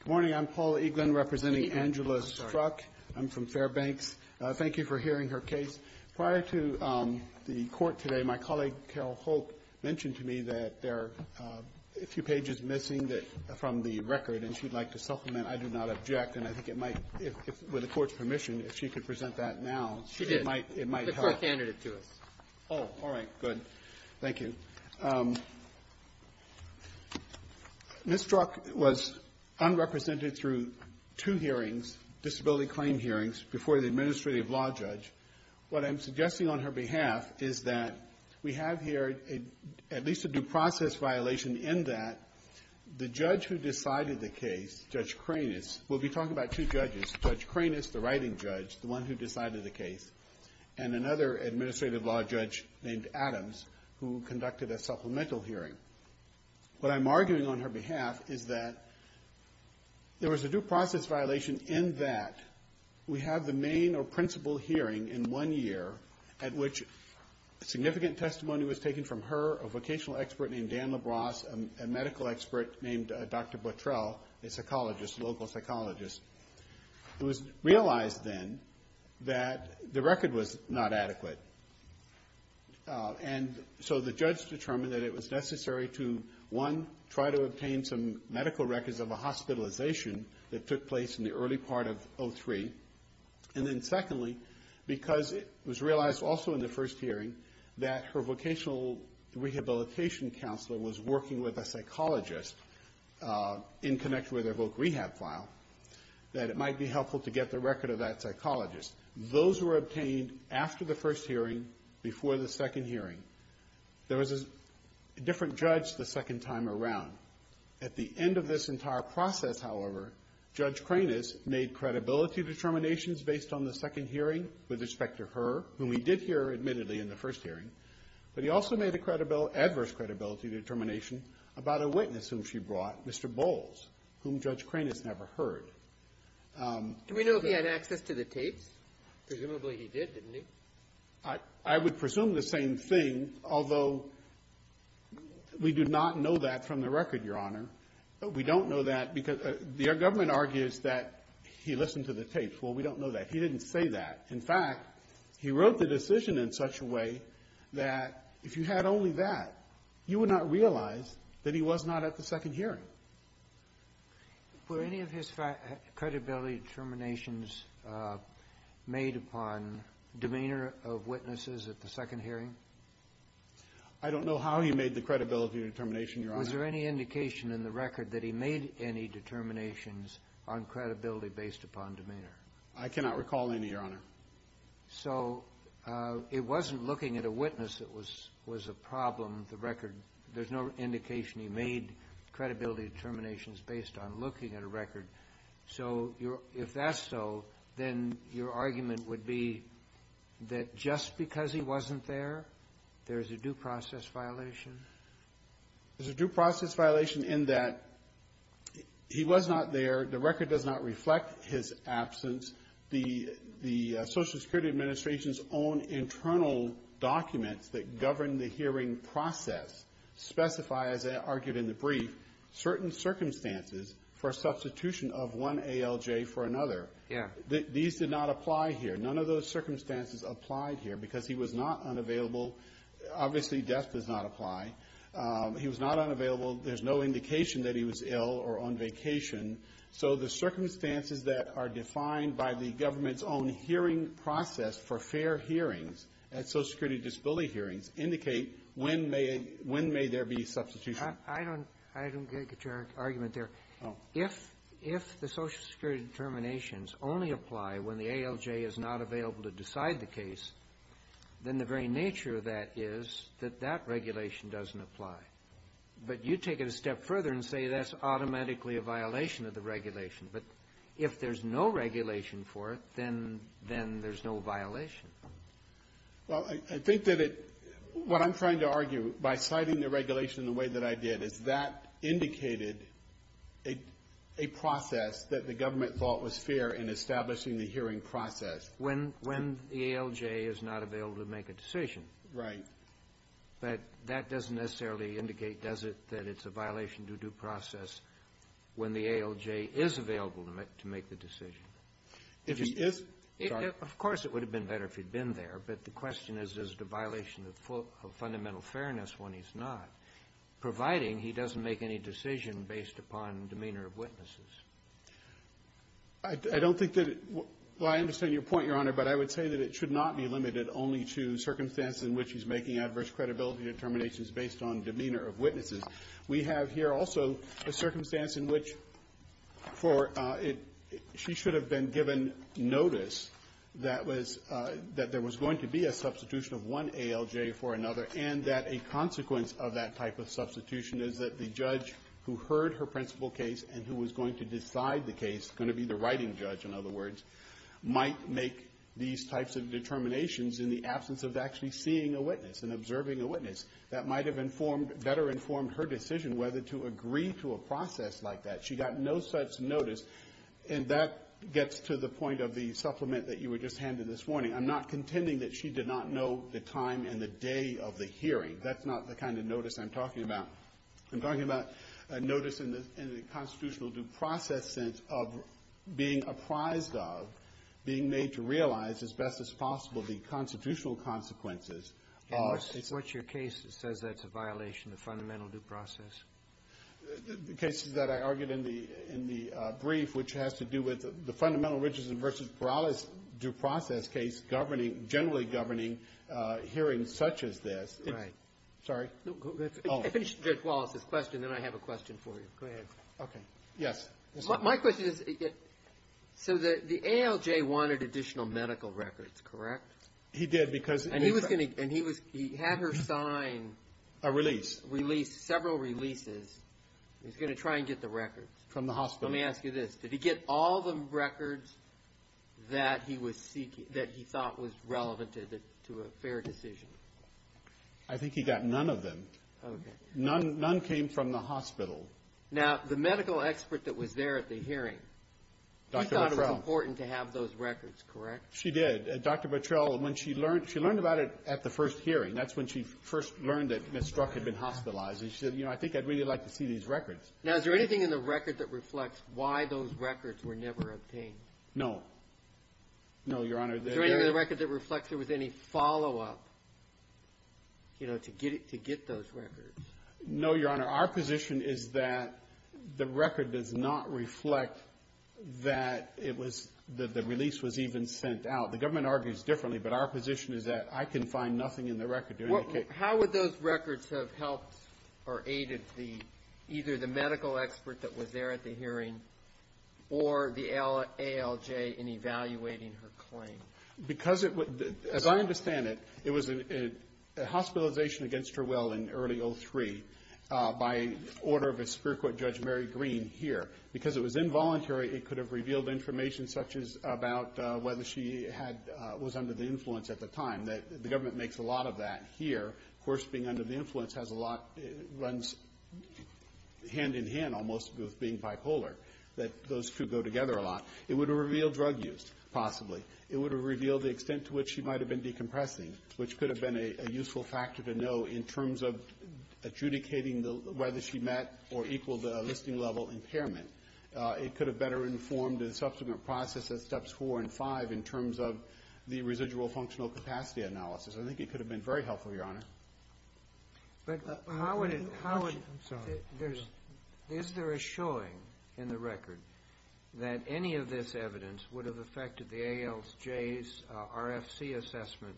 Good morning. I'm Paul Eaglin, representing Angela Struck. I'm from Fairbanks. Thank you for hearing her case. Prior to the court today, my colleague, Carol Holt, mentioned to me that there are a few pages missing from the record, and she'd like to supplement. I do not object, and I think it might, with the court's permission, if she could present that now, it might help. Oh, all right. Good. Thank you. Thank you. And so the judge determined that it was necessary to, one, try to obtain some medical records of a hospitalization that took place in the early part of 03, and then secondly, because it was realized also in the first hearing that her vocational rehabilitation counselor was working with a psychologist in connection with her voc rehab file, that it might be helpful to get the record of that psychologist. Those were obtained after the first hearing, before the second hearing. There was a different judge the second time around. At the end of this entire process, however, Judge Cranus made credibility determinations based on the second hearing with respect to her, whom we did hear, admittedly, in the first hearing. But he also made a credibility – adverse credibility determination about a witness whom she brought, Mr. Bowles, whom Judge Cranus never heard. Do we know if he had access to the tapes? Presumably he did, didn't he? I would presume the same thing, although we do not know that from the record, Your Honor. We don't know that because the government argues that he listened to the tapes. Well, we don't know that. He didn't say that. In fact, he wrote the decision in such a way that if you had only that, you would not realize that he was not at the second hearing. Were any of his credibility determinations made upon demeanor of witnesses at the second hearing? I don't know how he made the credibility determination, Your Honor. Was there any indication in the record that he made any determinations on credibility based upon demeanor? So it wasn't looking at a witness that was a problem. The record – there's no indication he made credibility determinations based on looking at a record. So if that's so, then your argument would be that just because he wasn't there, there's a due process violation? There's a due process violation in that he was not there. The record does not reflect his absence. The Social Security Administration's own internal documents that govern the hearing process specify, as I argued in the brief, certain circumstances for substitution of one ALJ for another. Yeah. These did not apply here. None of those circumstances applied here because he was not unavailable. Obviously, death does not apply. He was not unavailable. There's no indication that he was ill or on vacation. So the circumstances that are defined by the government's own hearing process for fair hearings at Social Security disability hearings indicate when may there be substitution. I don't get your argument there. If the Social Security determinations only apply when the ALJ is not available to decide the case, then the very nature of that is that that regulation doesn't apply. But you take it a step further and say that's automatically a violation of the regulation. But if there's no regulation for it, then there's no violation. Well, I think that it – what I'm trying to argue, by citing the regulation in the way that I did, is that indicated a process that the government thought was fair in establishing the hearing process. When the ALJ is not available to make a decision. Right. But that doesn't necessarily indicate, does it, that it's a violation due to process when the ALJ is available to make the decision. If he is? Of course, it would have been better if he'd been there. But the question is, is it a violation of fundamental fairness when he's not, providing he doesn't make any decision based upon demeanor of witnesses? I don't think that it – well, I understand your point, Your Honor, but I would say that it should not be limited only to circumstances in which he's making adverse credibility determinations based on demeanor of witnesses. We have here also a circumstance in which for it – she should have been given notice that was – that there was going to be a substitution of one ALJ for another and that a consequence of that type of substitution is that the judge who heard her principal case and who was going to decide the case, going to be the writing judge, in other words, might make these types of determinations in the absence of actually seeing a witness and observing a witness. That might have informed – better informed her decision whether to agree to a process like that. She got no such notice. And that gets to the point of the supplement that you were just handed this morning. I'm not contending that she did not know the time and the day of the hearing. That's not the kind of notice I'm talking about. I'm talking about a notice in the constitutional due process sense of being apprised of, being made to realize as best as possible the constitutional consequences of the case. And what's your case that says that's a violation of fundamental due process? The cases that I argued in the – in the brief, which has to do with the fundamental Richardson v. Perales due process case governing – generally governing hearings such as this. Sorry? I finished Judge Wallace's question. Then I have a question for you. Go ahead. Okay. Yes. My question is, so the ALJ wanted additional medical records, correct? He did because – And he was going to – and he was – he had her sign – A release. Release – several releases. He was going to try and get the records. From the hospital. Let me ask you this. Did he get all the records that he was seeking – that he thought was relevant to a fair decision? I think he got none of them. Okay. None came from the hospital. Now, the medical expert that was there at the hearing – Dr. Bottrell. He thought it was important to have those records, correct? She did. Dr. Bottrell, when she learned – she learned about it at the first hearing. That's when she first learned that Ms. Strzok had been hospitalized. And she said, you know, I think I'd really like to see these records. Now, is there anything in the record that reflects why those records were never obtained? No. No, Your Honor. Is there anything in the record that reflects there was any follow-up, you know, to get those records? No, Your Honor. Our position is that the record does not reflect that it was – that the release was even sent out. The government argues differently, but our position is that I can find nothing in the record to indicate – How would those records have helped or aided the – either the medical expert that was there at the hearing or the ALJ in evaluating her claim? Because it – as I understand it, it was a hospitalization against her will in early 2003 by order of a Superior Court Judge Mary Green here. Because it was involuntary, it could have revealed information such as about whether she had – was under the influence at the time. The government makes a lot of that here. Of course, being under the influence has a lot – hand-in-hand almost with being bipolar, that those two go together a lot. It would have revealed drug use, possibly. It would have revealed the extent to which she might have been decompressing, which could have been a useful factor to know in terms of adjudicating whether she met or equaled a listing-level impairment. It could have better informed the subsequent process at Steps 4 and 5 in terms of the residual functional capacity analysis. I think it could have been very helpful, Your Honor. But how would it – how would – I'm sorry. Is there a showing in the record that any of this evidence would have affected the ALJ's RFC assessment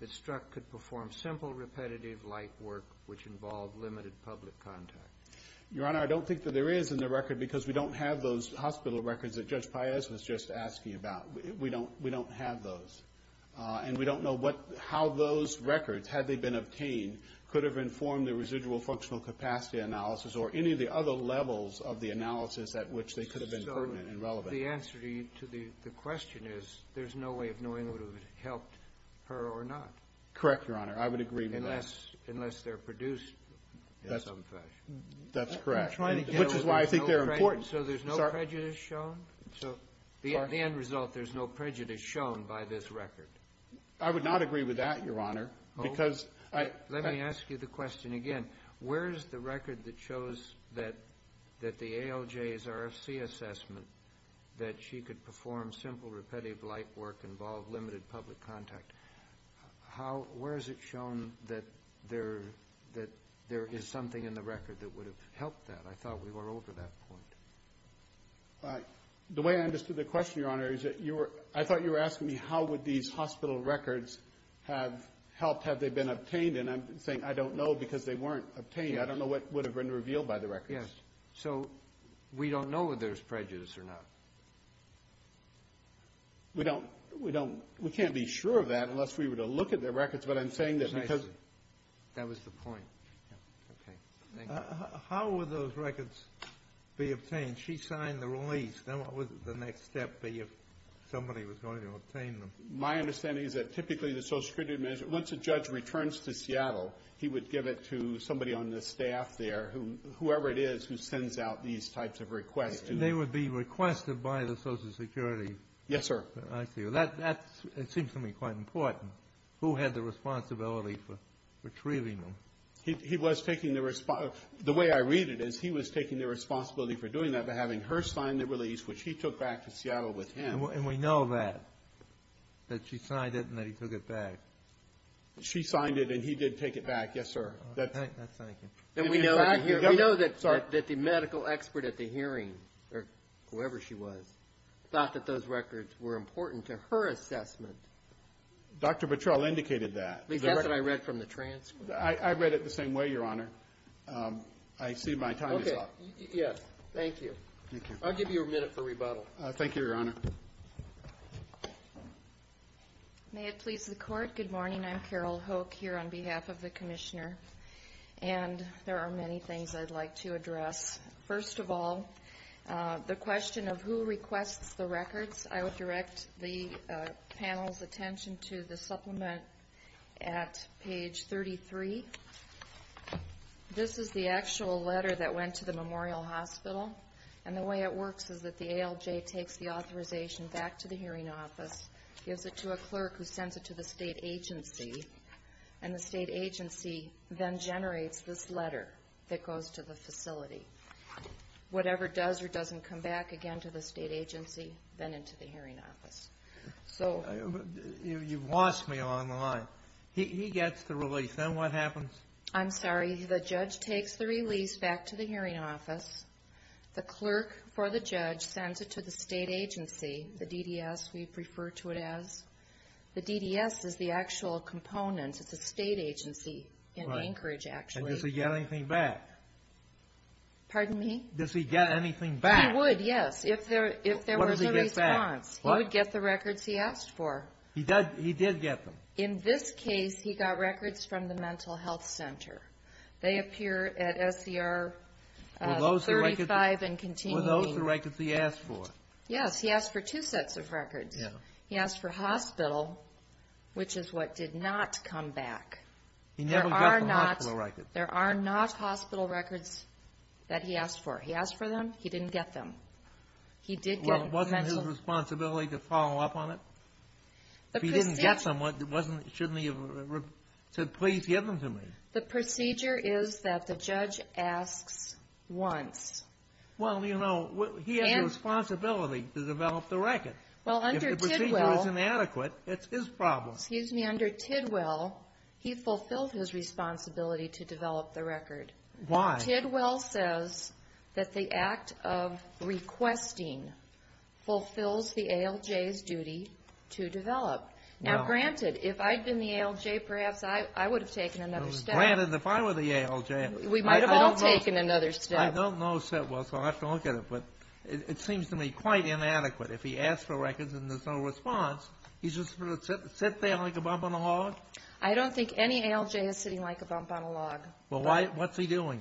that Strzok could perform simple repetitive light work which involved limited public contact? Your Honor, I don't think that there is in the record because we don't have those hospital records that Judge Paez was just asking about. We don't have those. And we don't know how those records, had they been obtained, could have informed the residual functional capacity analysis or any of the other levels of the analysis at which they could have been pertinent and relevant. So the answer to the question is there's no way of knowing whether it would have helped her or not. Correct, Your Honor. I would agree with that. Unless they're produced in some fashion. That's correct. I'm trying to get – Which is why I think they're important. So there's no prejudice shown? The end result, there's no prejudice shown by this record? I would not agree with that, Your Honor. Let me ask you the question again. Where is the record that shows that the ALJ's RFC assessment that she could perform simple repetitive light work involved limited public contact? Where is it shown that there is something in the record that would have helped that? I thought we were over that point. The way I understood the question, Your Honor, is that you were – I thought you were asking me how would these hospital records have helped, have they been obtained. And I'm saying I don't know because they weren't obtained. I don't know what would have been revealed by the records. Yes. So we don't know whether there's prejudice or not? We don't – we can't be sure of that unless we were to look at the records. But I'm saying that because – Precisely. That was the point. Okay. Thank you. How would those records be obtained? She signed the release. Then what would the next step be if somebody was going to obtain them? My understanding is that typically the Social Security – once a judge returns to Seattle, he would give it to somebody on the staff there, whoever it is who sends out these types of requests. And they would be requested by the Social Security? Yes, sir. I see. That seems to me quite important. Who had the responsibility for retrieving them? He was taking the – the way I read it is he was taking the responsibility for doing that by having her sign the release, which he took back to Seattle with him. And we know that, that she signed it and that he took it back. She signed it and he did take it back. Yes, sir. That's right. Thank you. We know that the medical expert at the hearing, or whoever she was, thought that those records were important to her assessment. Dr. Patrell indicated that. At least that's what I read from the transcript. I read it the same way, Your Honor. I see my time is up. Okay. Yes. Thank you. Thank you. I'll give you a minute for rebuttal. Thank you, Your Honor. May it please the Court. Good morning. I'm Carol Hoke here on behalf of the Commissioner. And there are many things I'd like to address. First of all, the question of who requests the records, I would direct the panel's attention to the supplement at page 33. This is the actual letter that went to the Memorial Hospital. And the way it works is that the ALJ takes the authorization back to the hearing office, gives it to a clerk who sends it to the state agency, and the state agency then generates this letter that goes to the facility. Whatever does or doesn't come back again to the state agency, then into the hearing office. You've lost me along the line. He gets the release. Then what happens? I'm sorry. The judge takes the release back to the hearing office. The clerk for the judge sends it to the state agency, the DDS we refer to it as. The DDS is the actual component. It's a state agency in Anchorage, actually. And does he get anything back? Pardon me? Does he get anything back? He would, yes, if there was a response. What does he get back? He would get the records he asked for. He did get them. In this case, he got records from the mental health center. They appear at SCR 35 and continue. Were those the records he asked for? Yes, he asked for two sets of records. He asked for hospital, which is what did not come back. He never got the hospital records. There are not hospital records that he asked for. He asked for them. He didn't get them. Well, wasn't his responsibility to follow up on it? If he didn't get them, shouldn't he have said, please give them to me? The procedure is that the judge asks once. Well, you know, he has a responsibility to develop the record. If the procedure is inadequate, it's his problem. Excuse me, under Tidwell, he fulfilled his responsibility to develop the record. Why? Tidwell says that the act of requesting fulfills the ALJ's duty to develop. Now, granted, if I had been the ALJ, perhaps I would have taken another step. Granted, if I were the ALJ. We might have all taken another step. I don't know Tidwell, so I'll have to look at it. But it seems to me quite inadequate. If he asks for records and there's no response, he's just going to sit there like a bump on a log? I don't think any ALJ is sitting like a bump on a log. Well, what's he doing?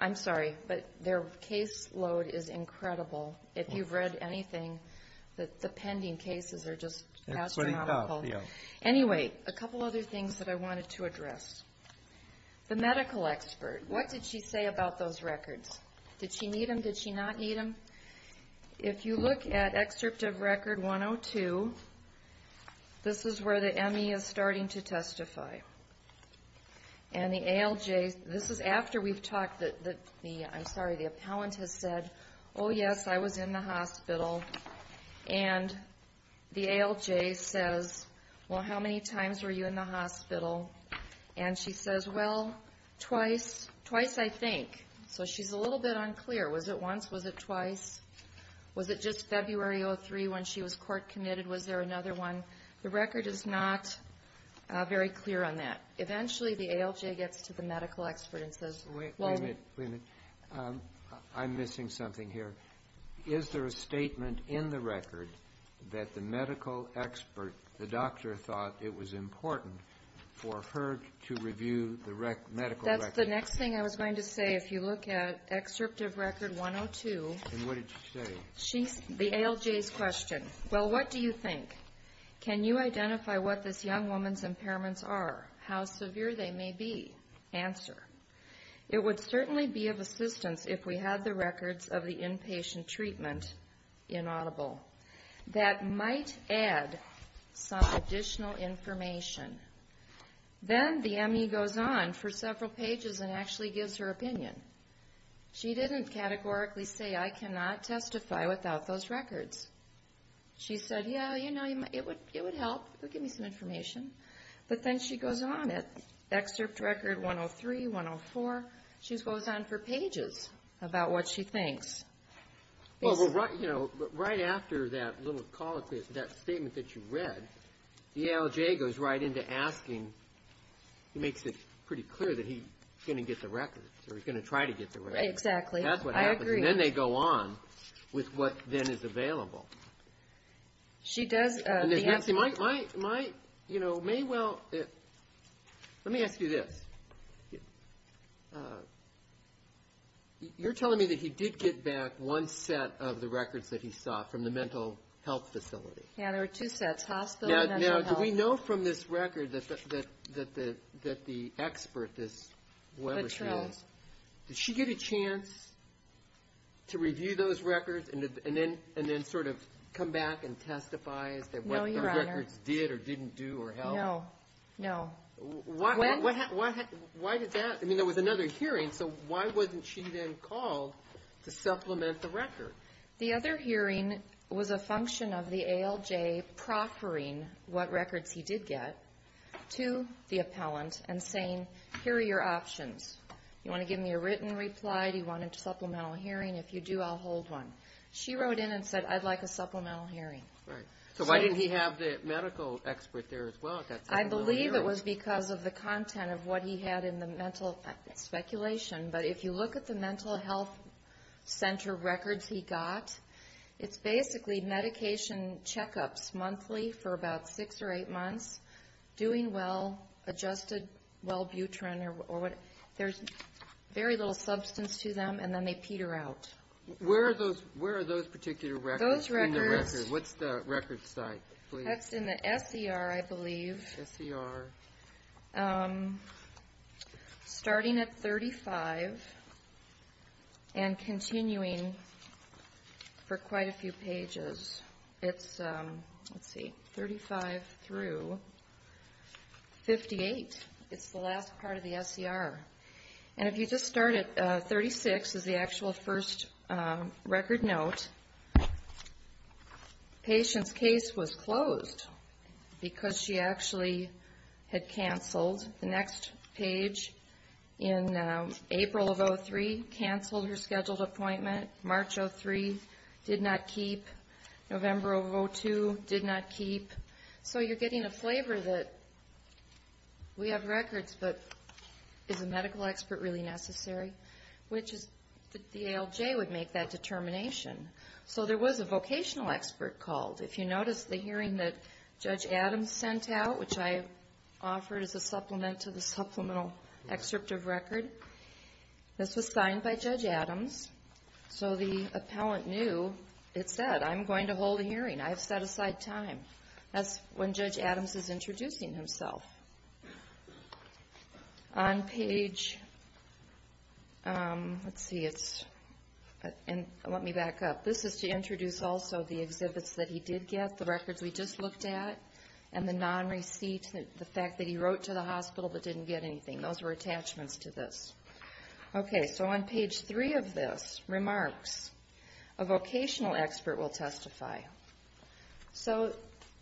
I'm sorry, but their caseload is incredible. If you've read anything, the pending cases are just astronomical. Anyway, a couple other things that I wanted to address. The medical expert, what did she say about those records? Did she need them? Did she not need them? If you look at Excerpt of Record 102, this is where the ME is starting to testify. And the ALJ, this is after we've talked. I'm sorry, the appellant has said, oh, yes, I was in the hospital. And the ALJ says, well, how many times were you in the hospital? And she says, well, twice. Twice, I think. So she's a little bit unclear. Was it once? Was it twice? Was it just February of 2003 when she was court committed? Was there another one? The record is not very clear on that. Eventually, the ALJ gets to the medical expert and says, well --" Wait a minute. Wait a minute. I'm missing something here. Is there a statement in the record that the medical expert, the doctor, thought it was important for her to review the medical record? That's the next thing I was going to say. If you look at Excerpt of Record 102, the ALJ's question, well, what do you think? Can you identify what this young woman's impairments are, how severe they may be? Answer, it would certainly be of assistance if we had the records of the inpatient treatment inaudible. That might add some additional information. Then the ME goes on for several pages and actually gives her opinion. She didn't categorically say, I cannot testify without those records. She said, yeah, you know, it would help. It would give me some information. But then she goes on at Excerpt Record 103, 104. She goes on for pages about what she thinks. Well, right after that little call, that statement that you read, the ALJ goes right into asking, makes it pretty clear that he's going to get the records, or he's going to try to get the records. Exactly. That's what happens. I agree. And then they go on with what then is available. She does. Let me ask you this. You're telling me that he did get back one set of the records that he saw from the mental health facility. Yeah, there were two sets, hospital and mental health. Now, do we know from this record that the expert, this whoever she is, did she get a chance to review those records and then sort of come back and testify as to what those records did or didn't do or help? No. No. When? Why did that? I mean, there was another hearing, so why wasn't she then called to supplement the record? The other hearing was a function of the ALJ proffering what records he did get to the appellant and saying, here are your options. You want to give me a written reply? Do you want a supplemental hearing? If you do, I'll hold one. She wrote in and said, I'd like a supplemental hearing. Right. So why didn't he have the medical expert there as well at that supplemental hearing? I believe it was because of the content of what he had in the mental speculation, but if you look at the mental health center records he got, it's basically medication checkups monthly for about six or eight months, doing well, adjusted wellbutrin or whatever. There's very little substance to them, and then they peter out. Where are those particular records in the record? What's the record site, please? That's in the SER, I believe. SER. Starting at 35 and continuing for quite a few pages. It's, let's see, 35 through 58. It's the last part of the SER. And if you just start at 36 is the actual first record note. Patient's case was closed because she actually had canceled. The next page, in April of 2003, canceled her scheduled appointment. March of 2003, did not keep. November of 2002, did not keep. So you're getting a flavor that we have records, but is a medical expert really necessary? The ALJ would make that determination. So there was a vocational expert called. If you notice the hearing that Judge Adams sent out, which I offered as a supplement to the supplemental excerpt of record, this was signed by Judge Adams. So the appellant knew. It said, I'm going to hold a hearing. I have set aside time. That's when Judge Adams is introducing himself. On page, let's see, it's, and let me back up. This is to introduce also the exhibits that he did get, the records we just looked at, and the non-receipt, the fact that he wrote to the hospital but didn't get anything. Those were attachments to this. Okay, so on page three of this, remarks. A vocational expert will testify. So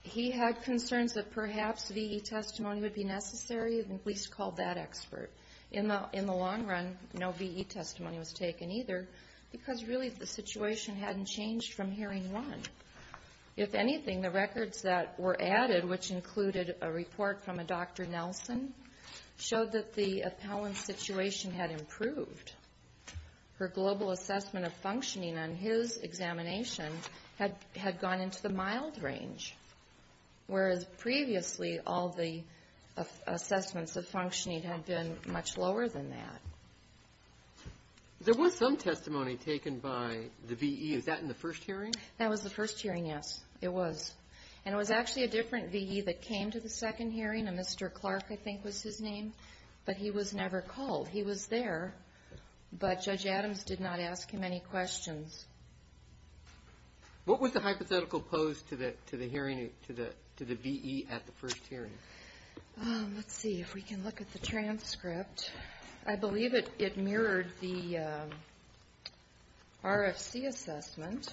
he had concerns that perhaps VE testimony would be necessary and at least called that expert. In the long run, no VE testimony was taken either because really the situation hadn't changed from hearing one. If anything, the records that were added, which included a report from a Dr. Nelson, showed that the appellant's situation had improved. Her global assessment of functioning on his examination had gone into the mild range, whereas previously all the assessments of functioning had been much lower than that. There was some testimony taken by the VE. Is that in the first hearing? That was the first hearing, yes. It was. And it was actually a different VE that came to the second hearing, a Mr. Clark, I think was his name, but he was never called. He was there, but Judge Adams did not ask him any questions. What was the hypothetical pose to the VE at the first hearing? Let's see if we can look at the transcript. I believe it mirrored the RFC assessment.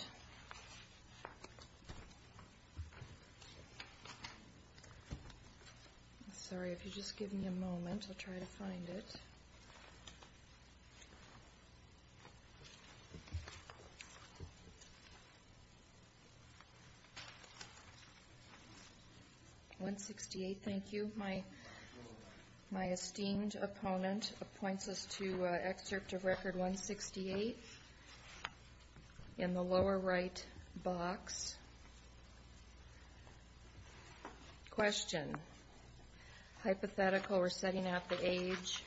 I'm sorry, if you'll just give me a moment, I'll try to find it. 168, thank you. My esteemed opponent appoints us to excerpt of Record 168. In the lower right box, question. Hypothetical, we're setting out the age,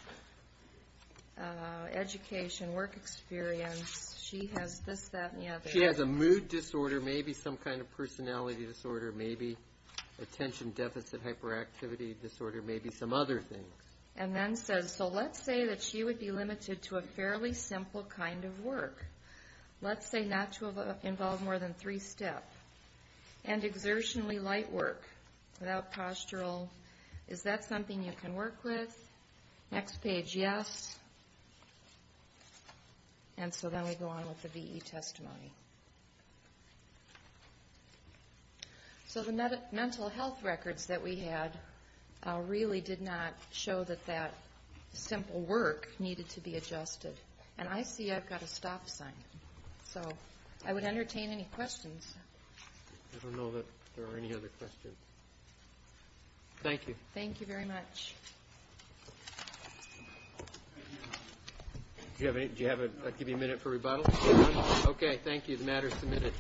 education, work experience. She has this, that, and the other. She has a mood disorder, maybe some kind of personality disorder, maybe attention deficit hyperactivity disorder, maybe some other things. And then says, so let's say that she would be limited to a fairly simple kind of work, let's say not to involve more than three steps, and exertionally light work without postural. Is that something you can work with? Next page, yes. And so then we go on with the VE testimony. So the mental health records that we had really did not show that that simple work needed to be adjusted. And I see I've got a stop sign. So I would entertain any questions. I don't know that there are any other questions. Thank you. Thank you very much. Do you have a minute for rebuttal? Okay, thank you. The matter is submitted.